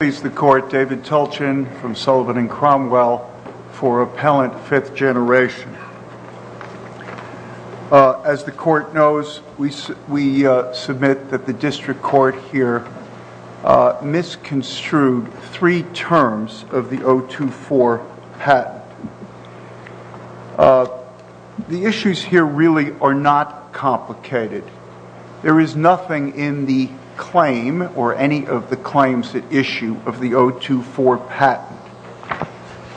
David Tulchin from Sullivan and Cromwell for Appellant Fifth Generation. As the Court knows, we submit that the District Court here misconstrued three terms of the O2-4 patent. The issues here really are not complicated. There is nothing in the claim or any of the claims at issue of the O2-4 patent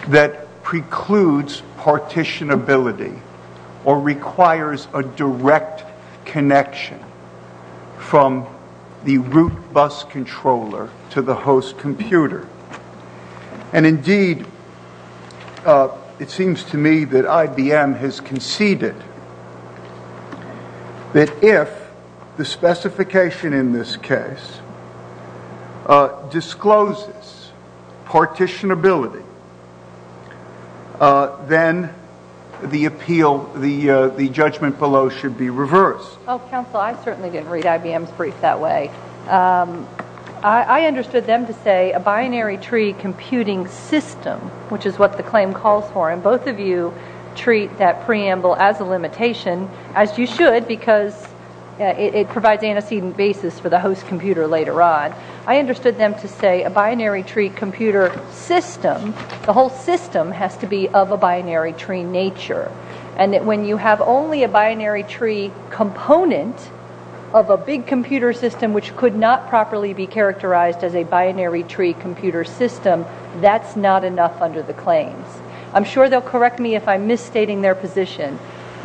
that precludes partitionability or requires a direct connection from the route bus controller to the host computer. Indeed, it seems to me that IBM has conceded that if the specification in this case discloses partitionability, then the appeal, the judgment below should be reversed. Counsel, I certainly didn't read IBM's brief that way. I understood them to say a binary tree computing system, which is what the claim calls for. And both of you treat that preamble as a limitation, as you should, because it provides antecedent basis for the host computer later on. I understood them to say a binary tree computer system, the whole system has to be of a binary tree nature. And that when you have only a binary tree component of a big computer system, which could not properly be characterized as a binary tree computer system, that's not enough under the claims. I'm sure they'll correct me if I'm misstating their position,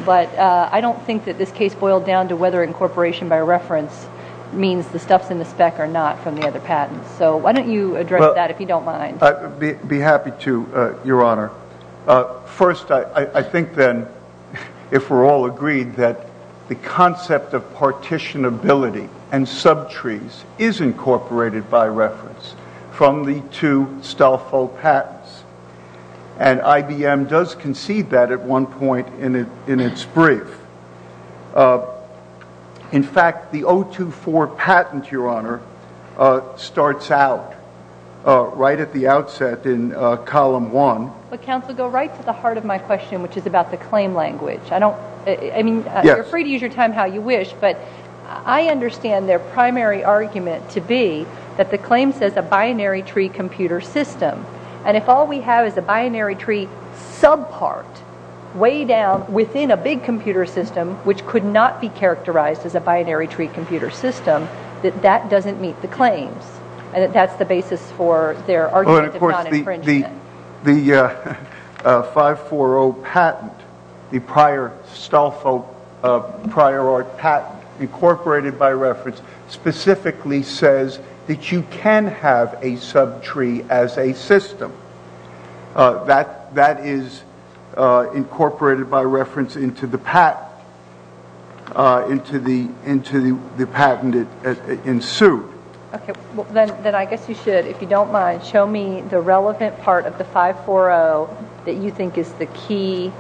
but I don't think that this case boiled down to whether incorporation by reference means the stuff's in the spec or not from the other patents. So why don't you address that, if you don't mind. I'd be happy to, Your Honor. First, I think then, if we're all agreed, that the concept of partitionability and subtrees is incorporated by reference from the two Stolfo patents. And IBM does concede that at one point in its brief. In fact, the 024 patent, Your Honor, starts out right at the outset in column one. But, counsel, go right to the heart of my question, which is about the claim language. I mean, you're free to use your time how you wish, but I understand their primary argument to be that the claim says a binary tree computer system. And if all we have is a binary tree subpart, way down within a big computer system, which could not be characterized as a binary tree computer system, that that doesn't meet the claims. And that's the basis for their argument of non-infringement. The 540 patent, the prior Stolfo prior art patent incorporated by reference, specifically says that you can have a subtree as a system. That is incorporated by reference into the patent ensued. Then I guess you should, if you don't mind, show me the relevant part of the 540 that you think is the key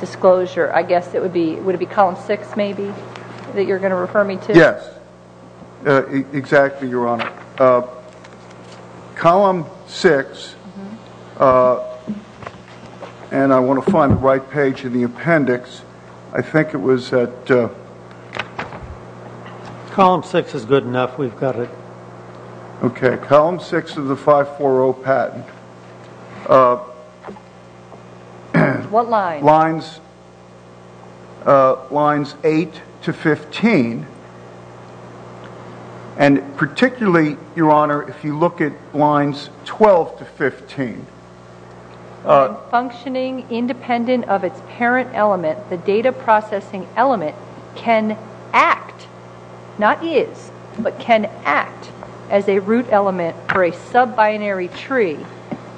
disclosure. I guess it would be column six, maybe, that you're going to refer me to? Yes. Exactly, Your Honor. Column six, and I want to find the right page in the appendix. I think it was at... Column six is good enough. We've got it. Okay. Column six of the 540 patent. What line? Lines eight to 15. And particularly, Your Honor, if you look at lines 12 to 15. Functioning independent of its parent element, the data processing element, can act, not is, but can act as a root element for a sub-binary tree.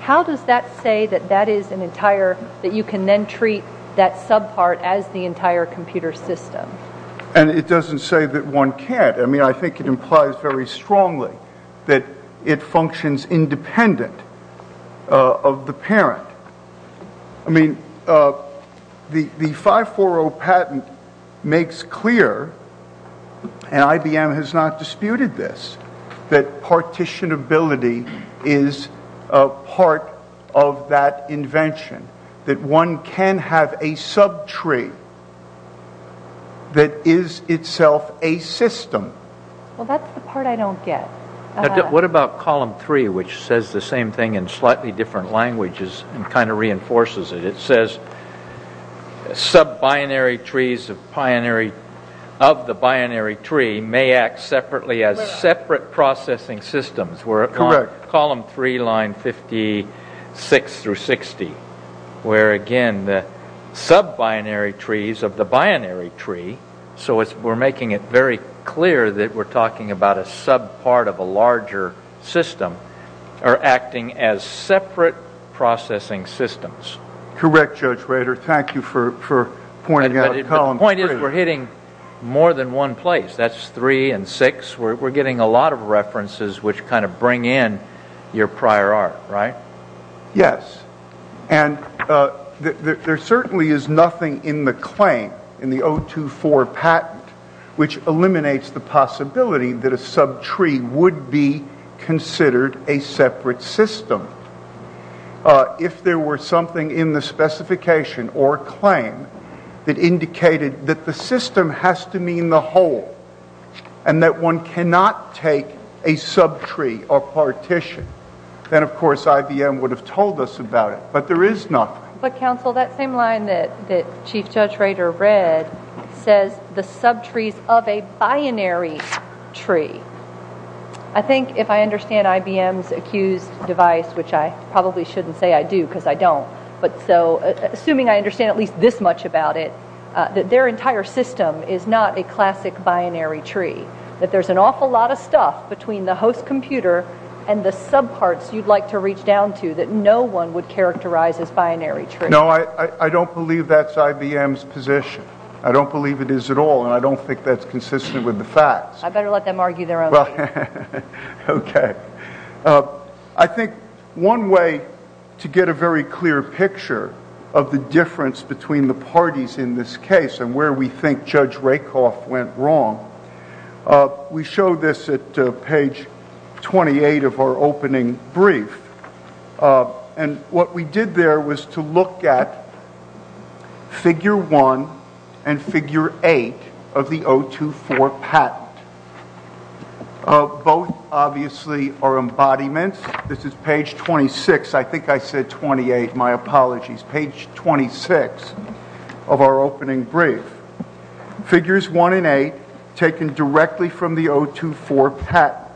How does that say that you can then treat that sub-part as the entire computer system? And it doesn't say that one can't. I mean, I think it implies very strongly that it functions independent of the parent. I mean, the 540 patent makes clear, and IBM has not disputed this, that partitionability is part of that invention, that one can have a subtree that is itself a system. Well, that's the part I don't get. What about column three, which says the same thing in slightly different languages and kind of reinforces it? It says sub-binary trees of the binary tree may act separately as separate processing systems. Correct. Column three, line 56 through 60, where, again, the sub-binary trees of the binary tree, so we're making it very clear that we're talking about a sub-part of a larger system, are acting as separate processing systems. Correct, Judge Rader. Thank you for pointing out column three. The point is we're hitting more than one place. That's three and six. We're getting a lot of references which kind of bring in your prior art, right? Yes, and there certainly is nothing in the claim, in the 024 patent, which eliminates the possibility that a subtree would be considered a separate system. If there were something in the specification or claim that indicated that the system has to mean the whole and that one cannot take a subtree or partition, then, of course, IBM would have told us about it. But there is nothing. But, counsel, that same line that Chief Judge Rader read says the subtrees of a binary tree. I think if I understand IBM's accused device, which I probably shouldn't say I do because I don't, but so assuming I understand at least this much about it, that their entire system is not a classic binary tree, that there's an awful lot of stuff between the host computer and the subparts you'd like to reach down to that no one would characterize as binary tree. No, I don't believe that's IBM's position. I don't believe it is at all, and I don't think that's consistent with the facts. I better let them argue their own case. Okay. I think one way to get a very clear picture of the difference between the parties in this case and where we think Judge Rakoff went wrong, we show this at page 28 of our opening brief. And what we did there was to look at figure 1 and figure 8 of the 024 patent. Both, obviously, are embodiments. This is page 26. I think I said 28. My apologies. Page 26 of our opening brief. Figures 1 and 8 taken directly from the 024 patent.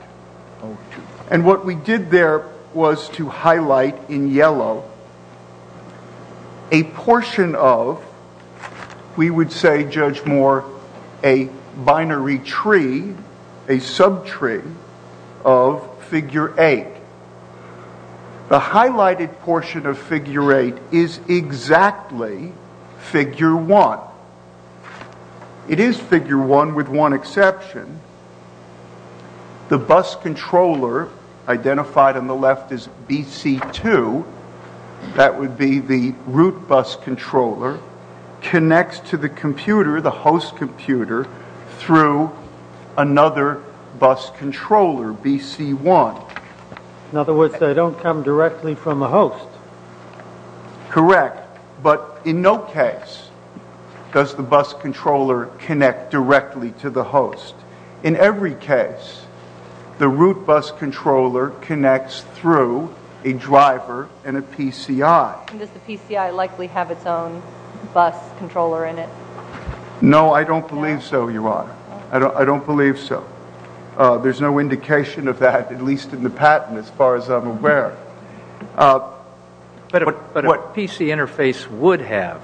And what we did there was to highlight in yellow a portion of, we would say, Judge Moore, a binary tree, a subtree of figure 8. The highlighted portion of figure 8 is exactly figure 1. It is figure 1 with one exception. The bus controller, identified on the left as BC2, that would be the root bus controller, connects to the computer, the host computer, through another bus controller, BC1. In other words, they don't come directly from a host. Correct. But in no case does the bus controller connect directly to the host. In every case, the root bus controller connects through a driver and a PCI. Does the PCI likely have its own bus controller in it? No, I don't believe so, Your Honor. I don't believe so. There's no indication of that, at least in the patent, as far as I'm aware. But a PC interface would have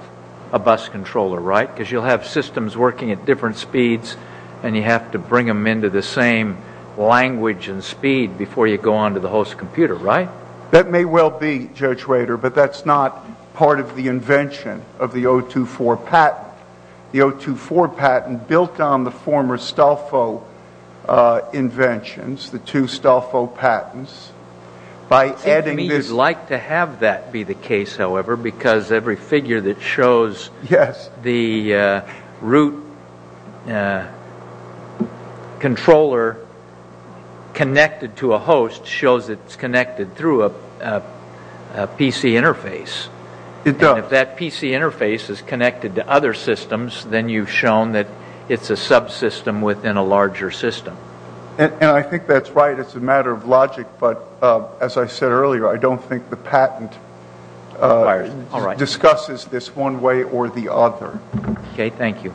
a bus controller, right? Because you'll have systems working at different speeds, and you have to bring them into the same language and speed before you go on to the host computer, right? That may well be, Judge Rader, but that's not part of the invention of the 024 patent. The 024 patent built on the former Stolfo inventions, the two Stolfo patents. It seems to me you'd like to have that be the case, however, because every figure that shows the root controller connected to a host shows it's connected through a PC interface. It does. But if that PC interface is connected to other systems, then you've shown that it's a subsystem within a larger system. And I think that's right. It's a matter of logic, but as I said earlier, I don't think the patent discusses this one way or the other. Okay, thank you.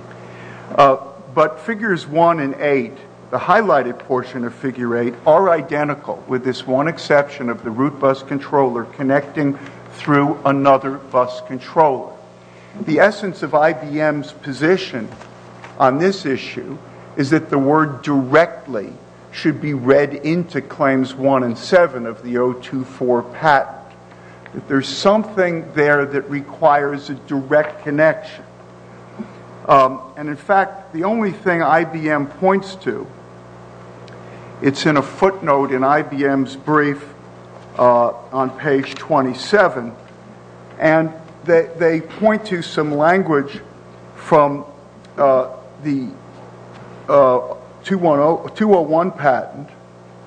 But Figures 1 and 8, the highlighted portion of Figure 8, with this one exception of the root bus controller connecting through another bus controller. The essence of IBM's position on this issue is that the word directly should be read into Claims 1 and 7 of the 024 patent. There's something there that requires a direct connection. And in fact, the only thing IBM points to, it's in a footnote in IBM's brief on page 27, and they point to some language from the 201 patent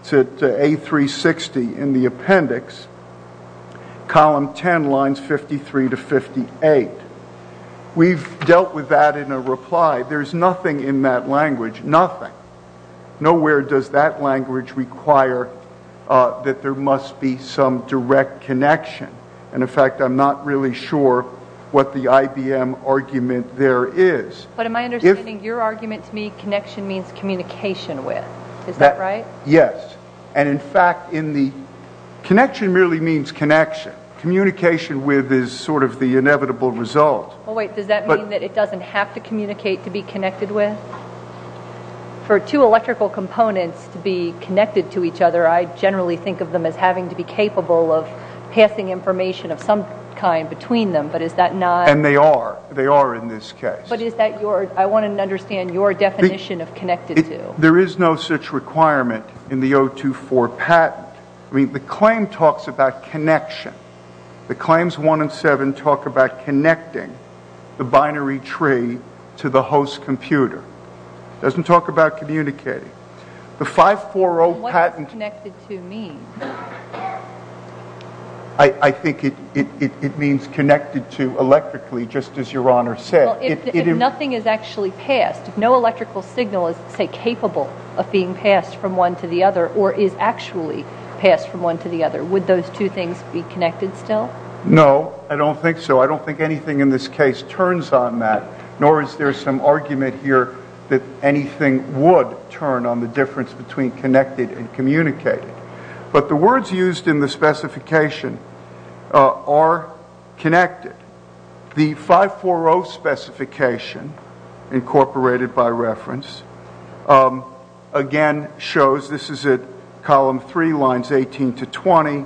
to A360 in the appendix, column 10, lines 53 to 58. We've dealt with that in a reply. There's nothing in that language, nothing. Nowhere does that language require that there must be some direct connection. And in fact, I'm not really sure what the IBM argument there is. But in my understanding, your argument to me, connection means communication with. Is that right? Yes. And in fact, connection merely means connection. Communication with is sort of the inevitable result. Well, wait, does that mean that it doesn't have to communicate to be connected with? For two electrical components to be connected to each other, I generally think of them as having to be capable of passing information of some kind between them. But is that not? And they are. They are in this case. But is that your, I want to understand your definition of connected to. There is no such requirement in the 024 patent. I mean, the claim talks about connection. The claims 1 and 7 talk about connecting the binary tree to the host computer. It doesn't talk about communicating. The 540 patent. What does connected to mean? I think it means connected to electrically, just as your Honor said. Well, if nothing is actually passed, if no electrical signal is, say, capable of being passed from one to the other or is actually passed from one to the other, would those two things be connected still? No, I don't think so. I don't think anything in this case turns on that, nor is there some argument here that anything would turn on the difference between connected and communicating. But the words used in the specification are connected. The 540 specification, incorporated by reference, again shows, this is at column 3, lines 18 to 20,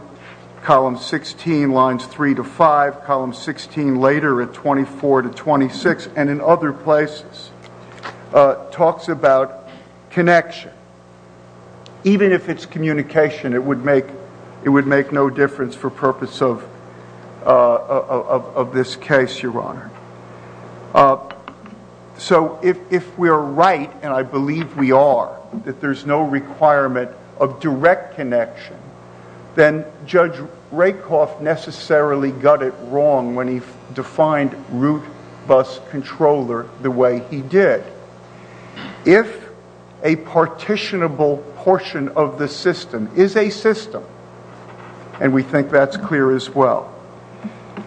column 16, lines 3 to 5, column 16 later at 24 to 26, and in other places, talks about connection. Even if it's communication, it would make no difference for purpose of this case, your Honor. So if we are right, and I believe we are, that there's no requirement of direct connection, then Judge Rakoff necessarily got it wrong when he defined root bus controller the way he did. If a partitionable portion of the system is a system, and we think that's clear as well,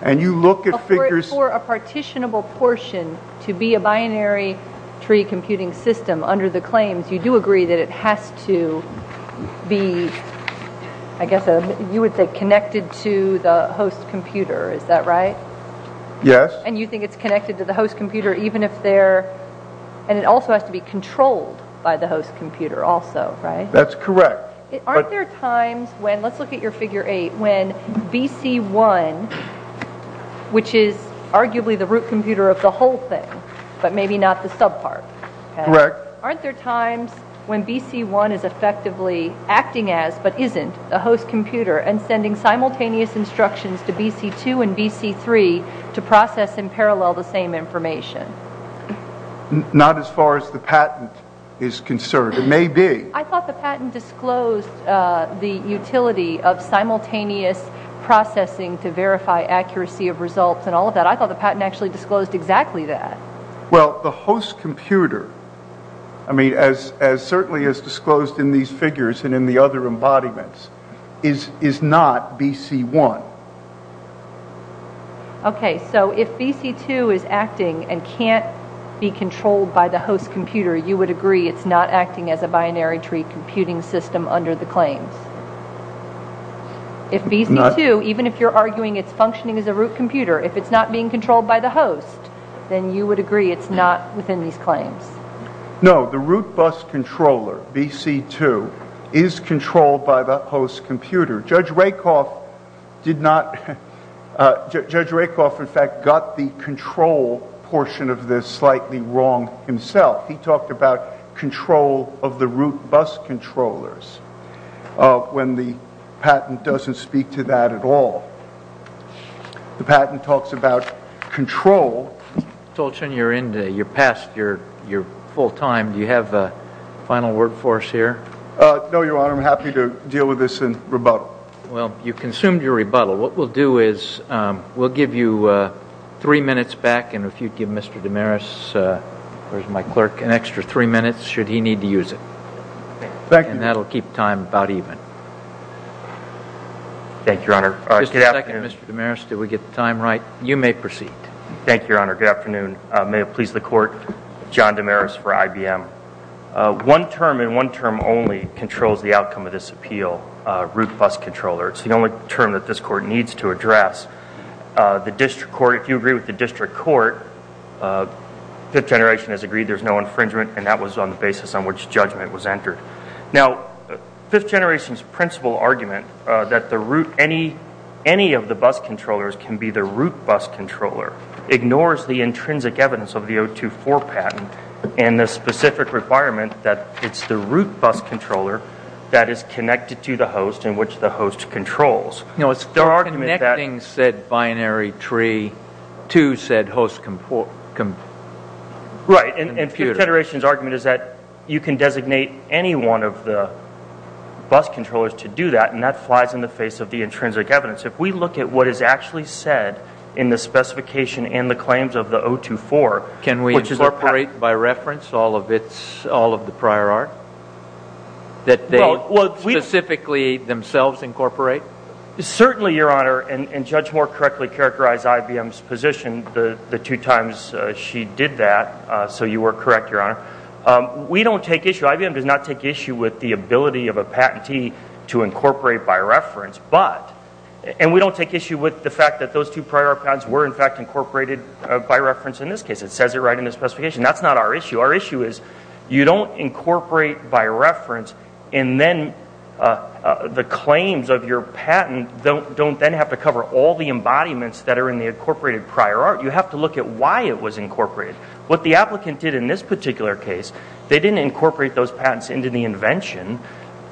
and you look at figures... For a partitionable portion to be a binary tree computing system under the claims, you do agree that it has to be, I guess you would say, connected to the host computer, is that right? Yes. And you think it's connected to the host computer even if they're... And it also has to be controlled by the host computer also, right? That's correct. Aren't there times when, let's look at your figure 8, when BC1, which is arguably the root computer of the whole thing, but maybe not the subpart, aren't there times when BC1 is effectively acting as, but isn't, the host computer and sending simultaneous instructions to BC2 and BC3 to process and parallel the same information? Not as far as the patent is concerned. It may be. I thought the patent disclosed the utility of simultaneous processing to verify accuracy of results and all of that. I thought the patent actually disclosed exactly that. Well, the host computer, I mean, as certainly is disclosed in these figures and in the other embodiments, is not BC1. Okay, so if BC2 is acting and can't be controlled by the host computer, you would agree it's not acting as a binary tree computing system under the claims? If BC2, even if you're arguing it's functioning as a root computer, if it's not being controlled by the host, then you would agree it's not within these claims? No, the root bus controller, BC2, is controlled by the host computer. Judge Rakoff, in fact, got the control portion of this slightly wrong himself. He talked about control of the root bus controllers when the patent doesn't speak to that at all. The patent talks about control. Mr. Tolchin, you're past your full time. Do you have a final word for us here? No, Your Honor. I'm happy to deal with this in rebuttal. Well, you consumed your rebuttal. What we'll do is we'll give you three minutes back, and if you'd give Mr. Damaris, my clerk, an extra three minutes should he need to use it. Thank you. Thank you, Your Honor. Just a second, Mr. Damaris. Do we get the time right? You may proceed. Thank you, Your Honor. Good afternoon. May it please the Court, John Damaris for IBM. One term and one term only controls the outcome of this appeal, root bus controller. It's the only term that this Court needs to address. The district court, if you agree with the district court, Fifth Generation has agreed there's no infringement, and that was on the basis on which judgment was entered. Now, Fifth Generation's principle argument that any of the bus controllers can be the root bus controller ignores the intrinsic evidence of the 024 patent and the specific requirement that it's the root bus controller that is connected to the host and which the host controls. No, it's the connecting said binary tree to said host computer. Right, and Fifth Generation's argument is that you can designate any one of the bus controllers to do that, and that flies in the face of the intrinsic evidence. If we look at what is actually said in the specification and the claims of the 024, which is a patent. Can we incorporate by reference all of the prior art that they specifically themselves incorporate? Certainly, Your Honor, and Judge Moore correctly characterized IBM's position the two times she did that, so you were correct, Your Honor. We don't take issue, IBM does not take issue with the ability of a patentee to incorporate by reference, and we don't take issue with the fact that those two prior patents were, in fact, incorporated by reference in this case. It says it right in the specification. That's not our issue. Our issue is you don't incorporate by reference, and then the claims of your patent don't then have to cover all the embodiments that are in the incorporated prior art. You have to look at why it was incorporated. What the applicant did in this particular case, they didn't incorporate those patents into the invention.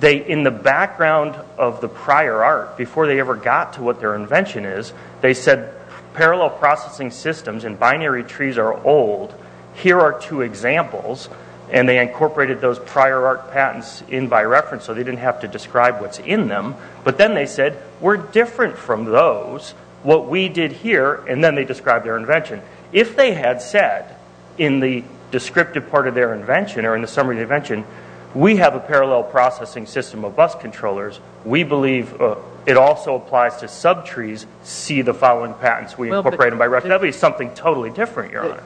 In the background of the prior art, before they ever got to what their invention is, they said parallel processing systems and binary trees are old. Here are two examples, and they incorporated those prior art patents in by reference so they didn't have to describe what's in them, but then they said we're different from those, what we did here, and then they described their invention. If they had said in the descriptive part of their invention or in the summary of their invention, we have a parallel processing system of bus controllers, we believe it also applies to subtrees, see the following patents, we incorporate them by reference. That would be something totally different, Your Honor.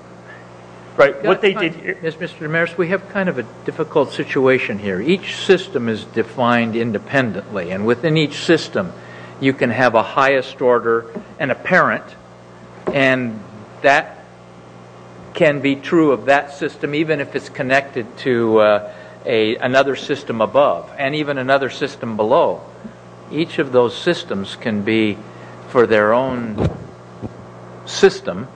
Mr. Damaris, we have kind of a difficult situation here. Each system is defined independently, and within each system you can have a highest order and a parent, and that can be true of that system even if it's connected to another system above and even another system below. Each of those systems can be, for their own system,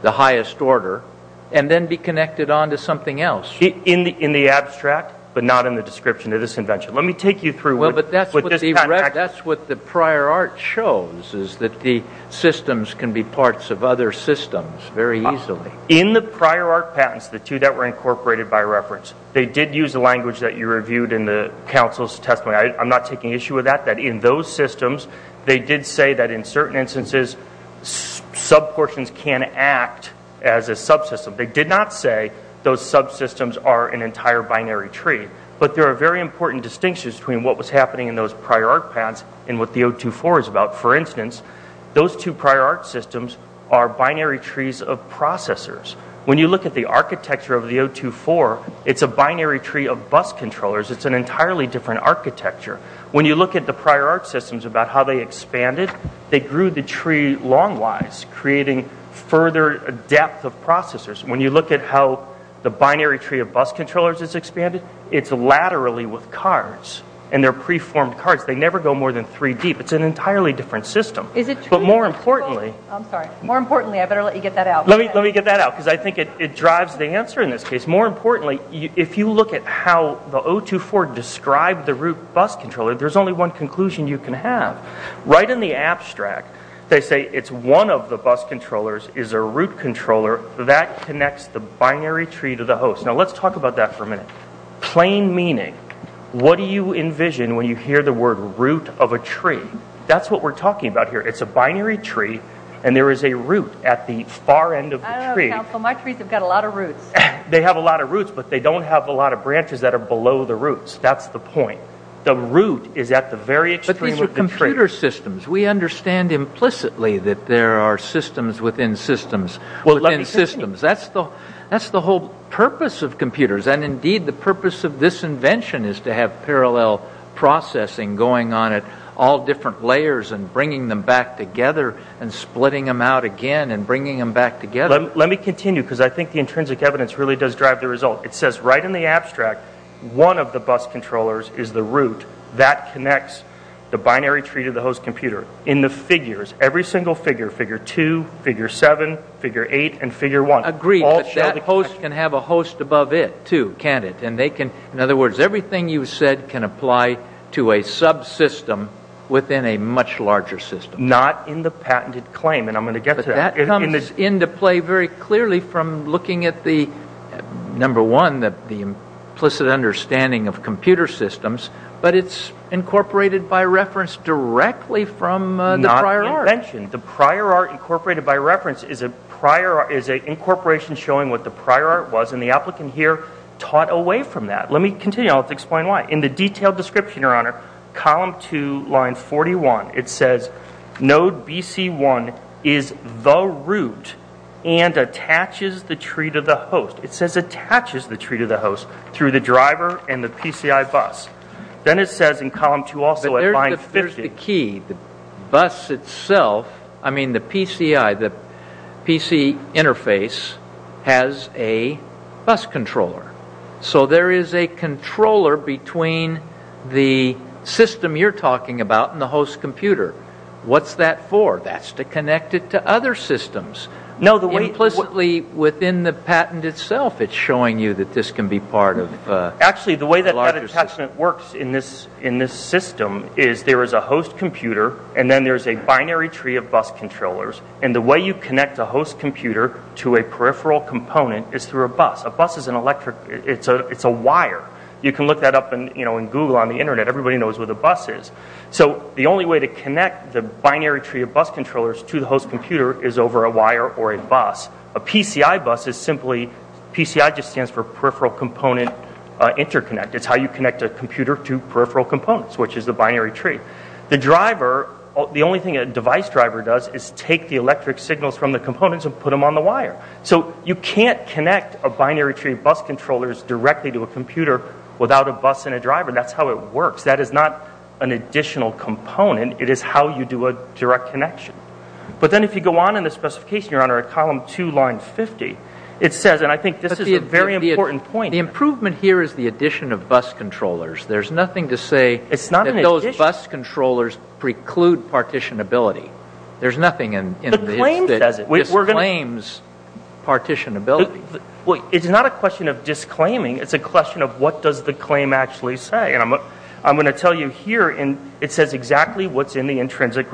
the highest order, and then be connected on to something else. In the abstract, but not in the description of this invention. Let me take you through what this patent actually is. Well, but that's what the prior art shows, is that the systems can be parts of other systems very easily. In the prior art patents, the two that were incorporated by reference, they did use the language that you reviewed in the counsel's testimony. I'm not taking issue with that, that in those systems they did say that in certain instances subportions can act as a subsystem. They did not say those subsystems are an entire binary tree, but there are very important distinctions between what was happening in those prior art patents and what the 024 is about. For instance, those two prior art systems are binary trees of processors. When you look at the architecture of the 024, it's a binary tree of bus controllers. It's an entirely different architecture. When you look at the prior art systems about how they expanded, they grew the tree long-wise, creating further depth of processors. When you look at how the binary tree of bus controllers is expanded, it's laterally with cards, and they're preformed cards. They never go more than three deep. It's an entirely different system. Is it true? I'm sorry. More importantly, I better let you get that out. Let me get that out, because I think it drives the answer in this case. More importantly, if you look at how the 024 described the root bus controller, there's only one conclusion you can have. Right in the abstract, they say it's one of the bus controllers is a root controller that connects the binary tree to the host. Now, let's talk about that for a minute. Plain meaning, what do you envision when you hear the word root of a tree? That's what we're talking about here. It's a binary tree, and there is a root at the far end of the tree. My trees have got a lot of roots. They have a lot of roots, but they don't have a lot of branches that are below the roots. That's the point. The root is at the very extreme of the tree. But these are computer systems. We understand implicitly that there are systems within systems within systems. Well, let me continue. That's the whole purpose of computers. And, indeed, the purpose of this invention is to have parallel processing going on at all different layers and bringing them back together and splitting them out again and bringing them back together. Let me continue, because I think the intrinsic evidence really does drive the result. It says right in the abstract, one of the bus controllers is the root that connects the binary tree to the host computer. In the figures, every single figure, figure 2, figure 7, figure 8, and figure 1. Agreed, but that host can have a host above it, too, can't it? In other words, everything you said can apply to a subsystem within a much larger system. Not in the patented claim, and I'm going to get to that. That comes into play very clearly from looking at, number one, the implicit understanding of computer systems, but it's incorporated by reference directly from the prior art. Not invention. The prior art incorporated by reference is an incorporation showing what the prior art was, and the applicant here taught away from that. Let me continue. I'll explain why. In the detailed description, your honor, column 2, line 41, it says node BC1 is the root and attaches the tree to the host. It says attaches the tree to the host through the driver and the PCI bus. Then it says in column 2 also at line 50. There's the key. The bus itself, I mean the PCI, the PC interface, has a bus controller. So there is a controller between the system you're talking about and the host computer. What's that for? That's to connect it to other systems. Implicitly within the patent itself, it's showing you that this can be part of a larger system. Actually, the way that that attachment works in this system is there is a host computer, and then there's a binary tree of bus controllers, and the way you connect a host computer to a peripheral component is through a bus. A bus is an electric, it's a wire. You can look that up in Google on the Internet. Everybody knows what a bus is. So the only way to connect the binary tree of bus controllers to the host computer is over a wire or a bus. A PCI bus is simply, PCI just stands for peripheral component interconnect. It's how you connect a computer to peripheral components, which is the binary tree. The driver, the only thing a device driver does is take the electric signals from the components and put them on the wire. So you can't connect a binary tree of bus controllers directly to a computer without a bus and a driver. That's how it works. That is not an additional component. It is how you do a direct connection. But then if you go on in the specification, Your Honor, at column 2, line 50, it says, and I think this is a very important point. The improvement here is the addition of bus controllers. There's nothing to say that those bus controllers preclude partitionability. There's nothing in this that disclaims partitionability. It's not a question of disclaiming. It's a question of what does the claim actually say. And I'm going to tell you here, it says exactly what's in the intrinsic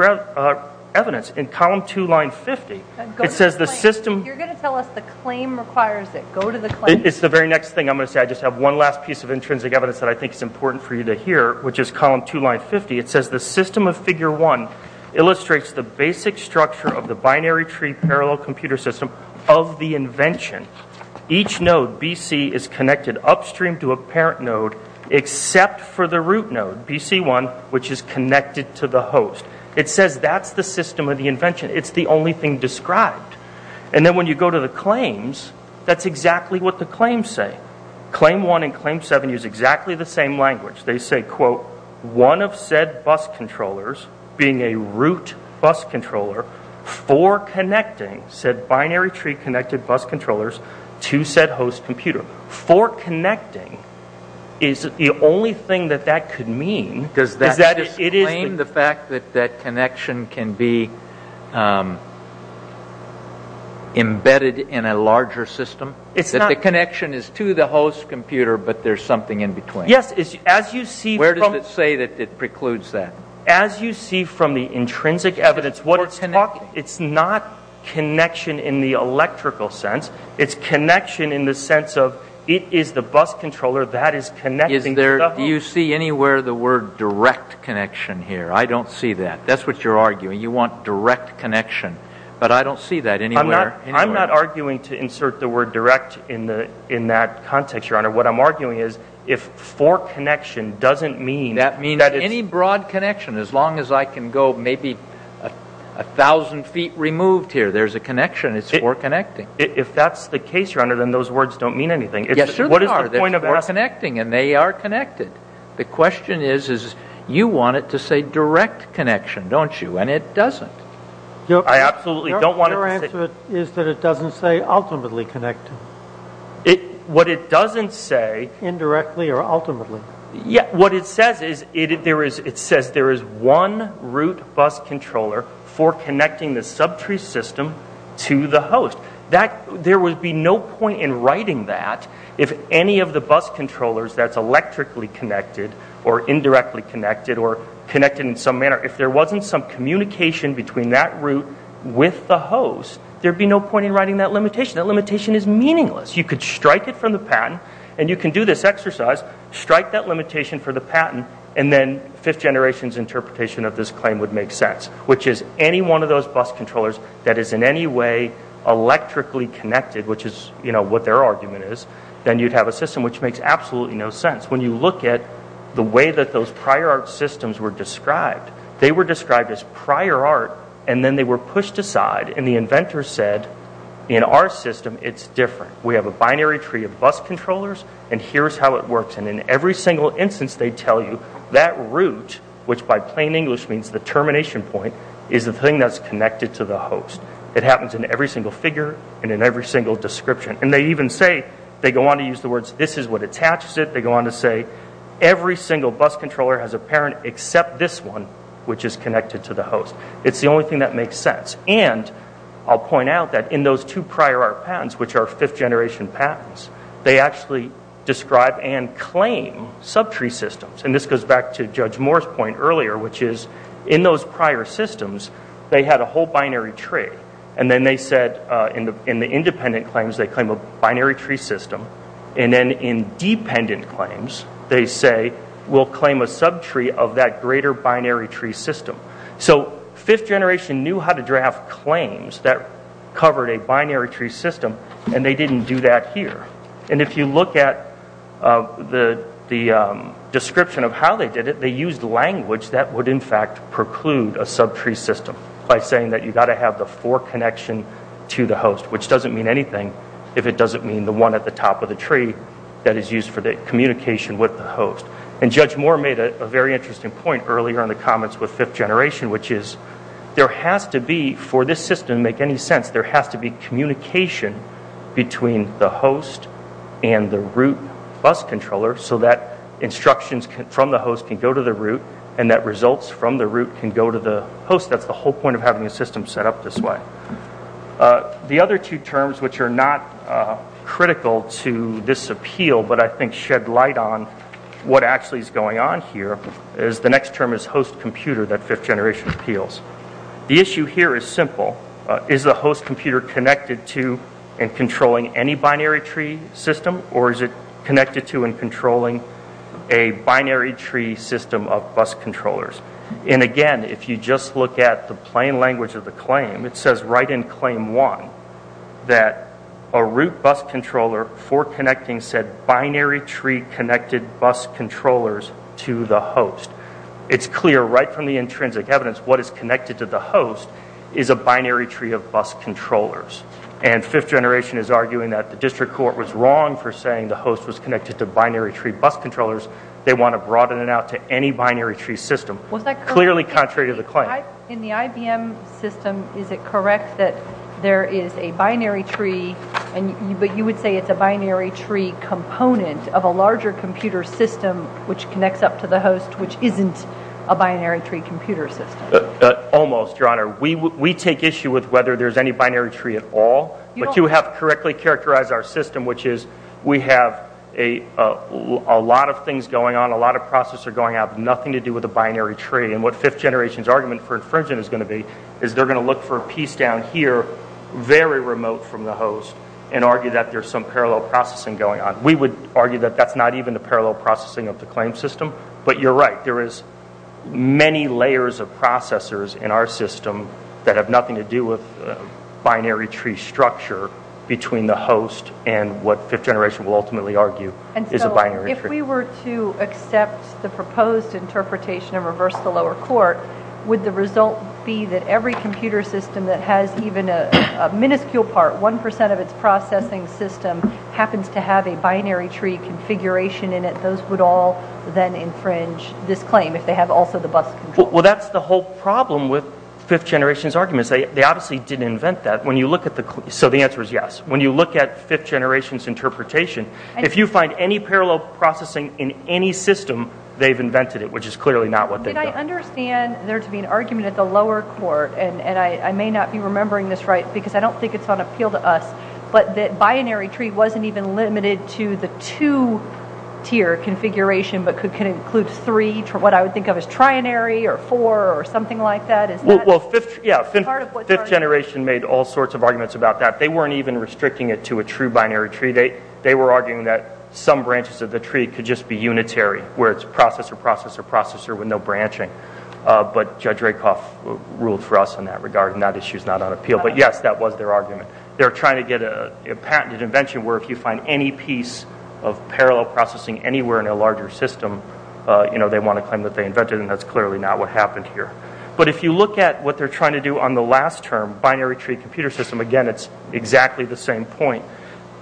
evidence. In column 2, line 50, it says the system. You're going to tell us the claim requires it. Go to the claim. It's the very next thing I'm going to say. I just have one last piece of intrinsic evidence that I think is important for you to hear, which is column 2, line 50. It says the system of figure 1 illustrates the basic structure of the binary tree parallel computer system of the invention. Each node, BC, is connected upstream to a parent node except for the root node, BC1, which is connected to the host. It says that's the system of the invention. It's the only thing described. And then when you go to the claims, that's exactly what the claims say. Claim 1 and claim 7 use exactly the same language. They say, quote, one of said bus controllers being a root bus controller for connecting said binary tree connected bus controllers to said host computer. For connecting is the only thing that that could mean. Does that explain the fact that that connection can be embedded in a larger system? It's not. The connection is to the host computer, but there's something in between. Where does it say that it precludes that? As you see from the intrinsic evidence, it's not connection in the electrical sense. It's connection in the sense of it is the bus controller that is connecting. Do you see anywhere the word direct connection here? I don't see that. That's what you're arguing. You want direct connection. But I don't see that anywhere. I'm not arguing to insert the word direct in that context, Your Honor. What I'm arguing is if for connection doesn't mean that it's... That means any broad connection, as long as I can go maybe 1,000 feet removed here, there's a connection. It's for connecting. If that's the case, Your Honor, then those words don't mean anything. Yes, sir, they are. What is the point of that? They're for connecting, and they are connected. The question is you want it to say direct connection, don't you? And it doesn't. I absolutely don't want it to say... Your answer is that it doesn't say ultimately connected. What it doesn't say... Indirectly or ultimately. What it says is it says there is one route bus controller for connecting the subtree system to the host. There would be no point in writing that if any of the bus controllers that's electrically connected or indirectly connected or connected in some manner, if there wasn't some communication between that route with the host, there would be no point in writing that limitation. That limitation is meaningless. You could strike it from the patent, and you can do this exercise, strike that limitation for the patent, and then fifth generation's interpretation of this claim would make sense, which is any one of those bus controllers that is in any way electrically connected, which is what their argument is, then you'd have a system which makes absolutely no sense. When you look at the way that those prior art systems were described, they were described as prior art, and then they were pushed aside, and the inventor said in our system it's different. We have a binary tree of bus controllers, and here's how it works, and in every single instance they tell you that route, which by plain English means the termination point, is the thing that's connected to the host. It happens in every single figure and in every single description, and they even say, they go on to use the words, this is what attaches it. They go on to say every single bus controller has a parent except this one, which is connected to the host. It's the only thing that makes sense. And I'll point out that in those two prior art patents, which are fifth generation patents, they actually describe and claim subtree systems. And this goes back to Judge Moore's point earlier, which is in those prior systems they had a whole binary tree, and then they said in the independent claims they claim a binary tree system, and then in dependent claims they say we'll claim a subtree of that greater binary tree system. So fifth generation knew how to draft claims that covered a binary tree system, and they didn't do that here. And if you look at the description of how they did it, they used language that would in fact preclude a subtree system by saying that you've got to have the fork connection to the host, which doesn't mean anything if it doesn't mean the one at the top of the tree that is used for the communication with the host. And Judge Moore made a very interesting point earlier in the comments with fifth generation, which is there has to be, for this system to make any sense, there has to be communication between the host and the root bus controller so that instructions from the host can go to the root and that results from the root can go to the host. That's the whole point of having a system set up this way. The other two terms, which are not critical to this appeal, but I think shed light on what actually is going on here, is the next term is host computer that fifth generation appeals. The issue here is simple. Is the host computer connected to and controlling any binary tree system or is it connected to and controlling a binary tree system of bus controllers? And again, if you just look at the plain language of the claim, it says right in claim one that a root bus controller for connecting said binary tree connected bus controllers to the host. It's clear right from the intrinsic evidence what is connected to the host is a binary tree of bus controllers. And fifth generation is arguing that the district court was wrong for saying the host was connected to binary tree bus controllers. They want to broaden it out to any binary tree system. Clearly contrary to the claim. In the IBM system, is it correct that there is a binary tree but you would say it's a binary tree component of a larger computer system which connects up to the host which isn't a binary tree computer system? Almost, Your Honor. We take issue with whether there's any binary tree at all, but you have correctly characterized our system, which is we have a lot of things going on, a lot of processes going on, that have nothing to do with a binary tree. And what fifth generation's argument for infringement is going to be is they're going to look for a piece down here very remote from the host and argue that there's some parallel processing going on. We would argue that that's not even the parallel processing of the claim system, but you're right. There is many layers of processors in our system that have nothing to do with binary tree structure between the host and what fifth generation will ultimately argue is a binary tree. If we were to accept the proposed interpretation and reverse the lower court, would the result be that every computer system that has even a minuscule part, 1% of its processing system, happens to have a binary tree configuration in it? Those would all then infringe this claim if they have also the bus control. Well, that's the whole problem with fifth generation's arguments. They obviously didn't invent that. When you look at fifth generation's interpretation, if you find any parallel processing in any system, they've invented it, which is clearly not what they've done. Did I understand there to be an argument at the lower court, and I may not be remembering this right because I don't think it's on appeal to us, but that binary tree wasn't even limited to the two-tier configuration but could include three, what I would think of as trinary, or four, or something like that? Well, yeah, fifth generation made all sorts of arguments about that. They weren't even restricting it to a true binary tree. They were arguing that some branches of the tree could just be unitary, where it's processor, processor, processor with no branching. But Judge Rakoff ruled for us in that regard, and that issue is not on appeal. But, yes, that was their argument. They were trying to get a patented invention where if you find any piece of parallel processing anywhere in a larger system, they want to claim that they invented it, and that's clearly not what happened here. But if you look at what they're trying to do on the last term, binary tree computer system, again, it's exactly the same point.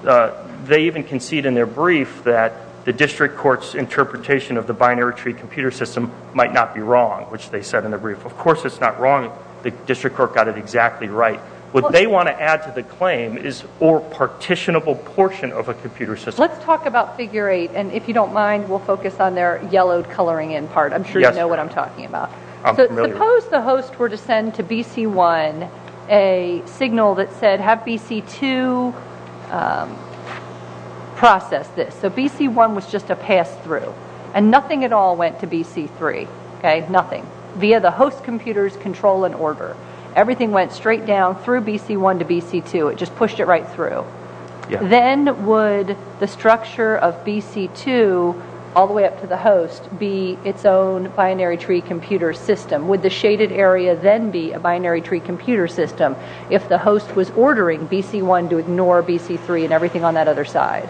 They even concede in their brief that the district court's interpretation of the binary tree computer system might not be wrong, which they said in the brief. Of course it's not wrong. The district court got it exactly right. What they want to add to the claim is or partitionable portion of a computer system. Let's talk about Figure 8, and if you don't mind, we'll focus on their yellowed coloring in part. I'm sure you know what I'm talking about. Suppose the host were to send to BC1 a signal that said have BC2 process this. So BC1 was just a pass through, and nothing at all went to BC3, nothing, via the host computer's control and order. Everything went straight down through BC1 to BC2. It just pushed it right through. Then would the structure of BC2 all the way up to the host be its own binary tree computer system? Would the shaded area then be a binary tree computer system if the host was ordering BC1 to ignore BC3 and everything on that other side?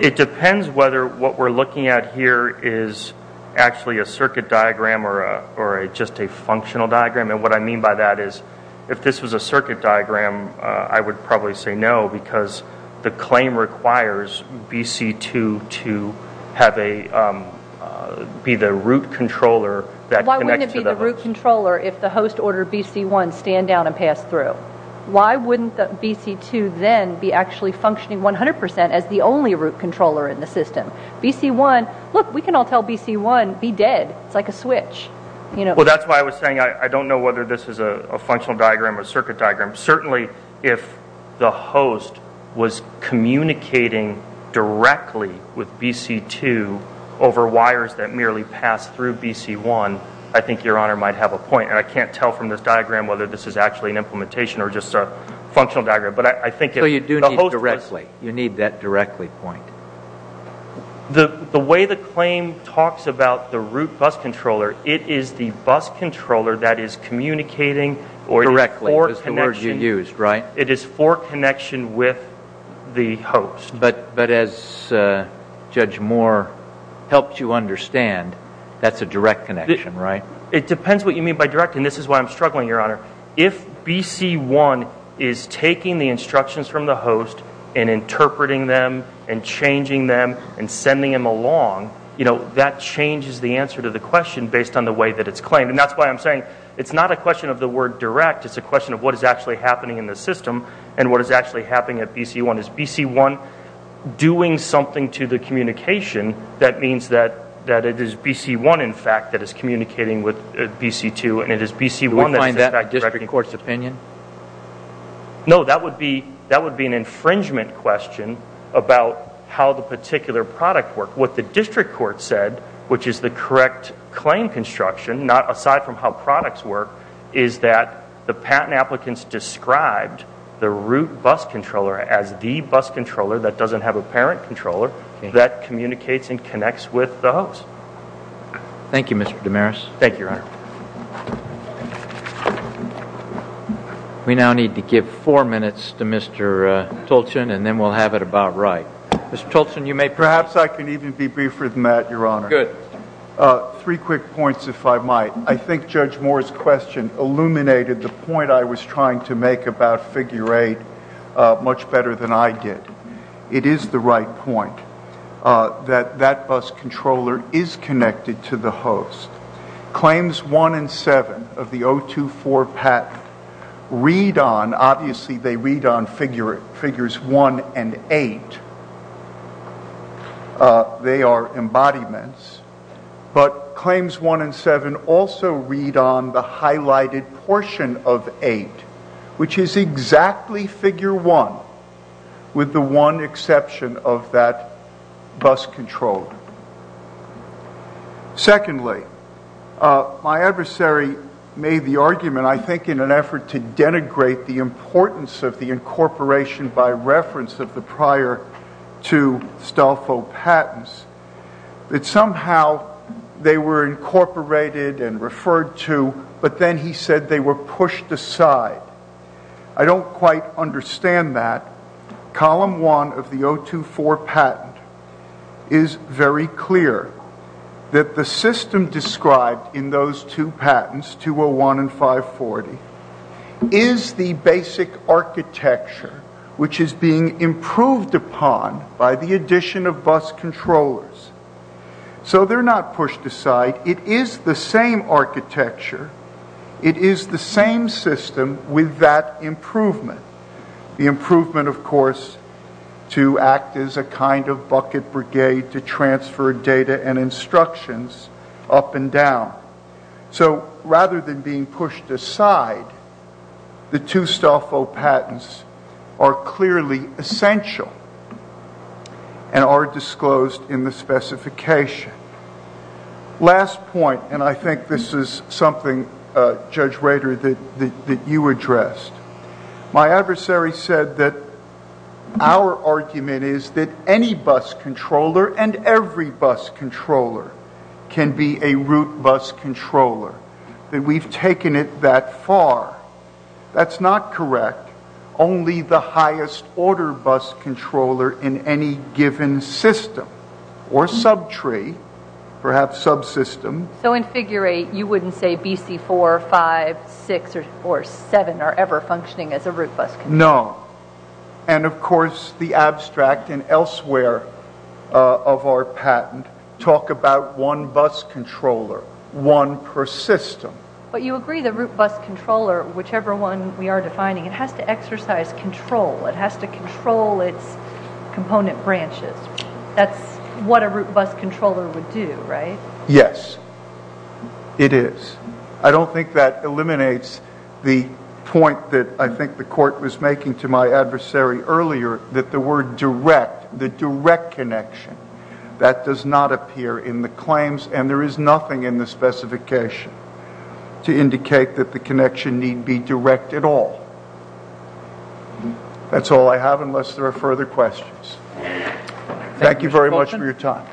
It depends whether what we're looking at here is actually a circuit diagram or just a functional diagram. What I mean by that is if this was a circuit diagram, I would probably say no because the claim requires BC2 to be the root controller that connects to the host. Why wouldn't it be the root controller if the host ordered BC1 stand down and pass through? Why wouldn't BC2 then be actually functioning 100% as the only root controller in the system? BC1, look, we can all tell BC1 be dead. It's like a switch. That's why I was saying I don't know whether this is a functional diagram or a circuit diagram. Certainly if the host was communicating directly with BC2 over wires that merely pass through BC1, I think Your Honor might have a point. I can't tell from this diagram whether this is actually an implementation or just a functional diagram. You do need directly. You need that directly point. The way the claim talks about the root bus controller, it is the bus controller that is communicating or is for connection. Directly is the word you used, right? It is for connection with the host. But as Judge Moore helped you understand, that's a direct connection, right? It depends what you mean by direct, and this is why I'm struggling, Your Honor. If BC1 is taking the instructions from the host and interpreting them and changing them and sending them along, that changes the answer to the question based on the way that it's claimed. And that's why I'm saying it's not a question of the word direct. It's a question of what is actually happening in the system and what is actually happening at BC1. Is BC1 doing something to the communication that means that it is BC1, in fact, that is communicating with BC2 and it is BC1 that is in fact directing. Do we find that in the district court's opinion? No, that would be an infringement question about how the particular product worked. What the district court said, which is the correct claim construction, not aside from how products work, is that the patent applicants described the root bus controller as the bus controller that doesn't have a parent controller that communicates and connects with the host. Thank you, Mr. Damaris. Thank you, Your Honor. We now need to give four minutes to Mr. Tolchin and then we'll have it about right. Mr. Tolchin, you may proceed. Perhaps I can even be briefer than that, Your Honor. Good. Three quick points, if I might. I think Judge Moore's question illuminated the point I was trying to make about figure eight much better than I did. It is the right point that that bus controller is connected to the host. Claims one and seven of the 024 patent read on, obviously they read on figures one and eight. They are embodiments. But claims one and seven also read on the highlighted portion of eight, which is exactly figure one with the one exception of that bus controller. Secondly, my adversary made the argument, I think in an effort to denigrate the importance of the incorporation by reference of the prior two Stolfo patents, that somehow they were incorporated and referred to, but then he said they were pushed aside. I don't quite understand that. Column one of the 024 patent is very clear that the system described in those two patents, 201 and 540, is the basic architecture which is being improved upon by the addition of bus controllers. So they're not pushed aside. It is the same architecture. It is the same system with that improvement. The improvement, of course, to act as a kind of bucket brigade to transfer data and instructions up and down. So rather than being pushed aside, the two Stolfo patents are clearly essential and are disclosed in the specification. Last point, and I think this is something, Judge Rader, that you addressed. My adversary said that our argument is that any bus controller and every bus controller can be a root bus controller. That we've taken it that far. That's not correct. Only the highest order bus controller in any given system or subtree, perhaps subsystem. So in figure eight, you wouldn't say BC4, 5, 6, or 7 are ever functioning as a root bus controller. No. And of course, the abstract and elsewhere of our patent talk about one bus controller, one per system. But you agree the root bus controller, whichever one we are defining, it has to exercise control. It has to control its component branches. That's what a root bus controller would do, right? Yes. It is. I don't think that eliminates the point that I think the court was making to my adversary earlier, that the word direct, the direct connection, that does not appear in the claims and there is nothing in the specification to indicate that the connection need be direct at all. That's all I have unless there are further questions. Thank you very much for your time.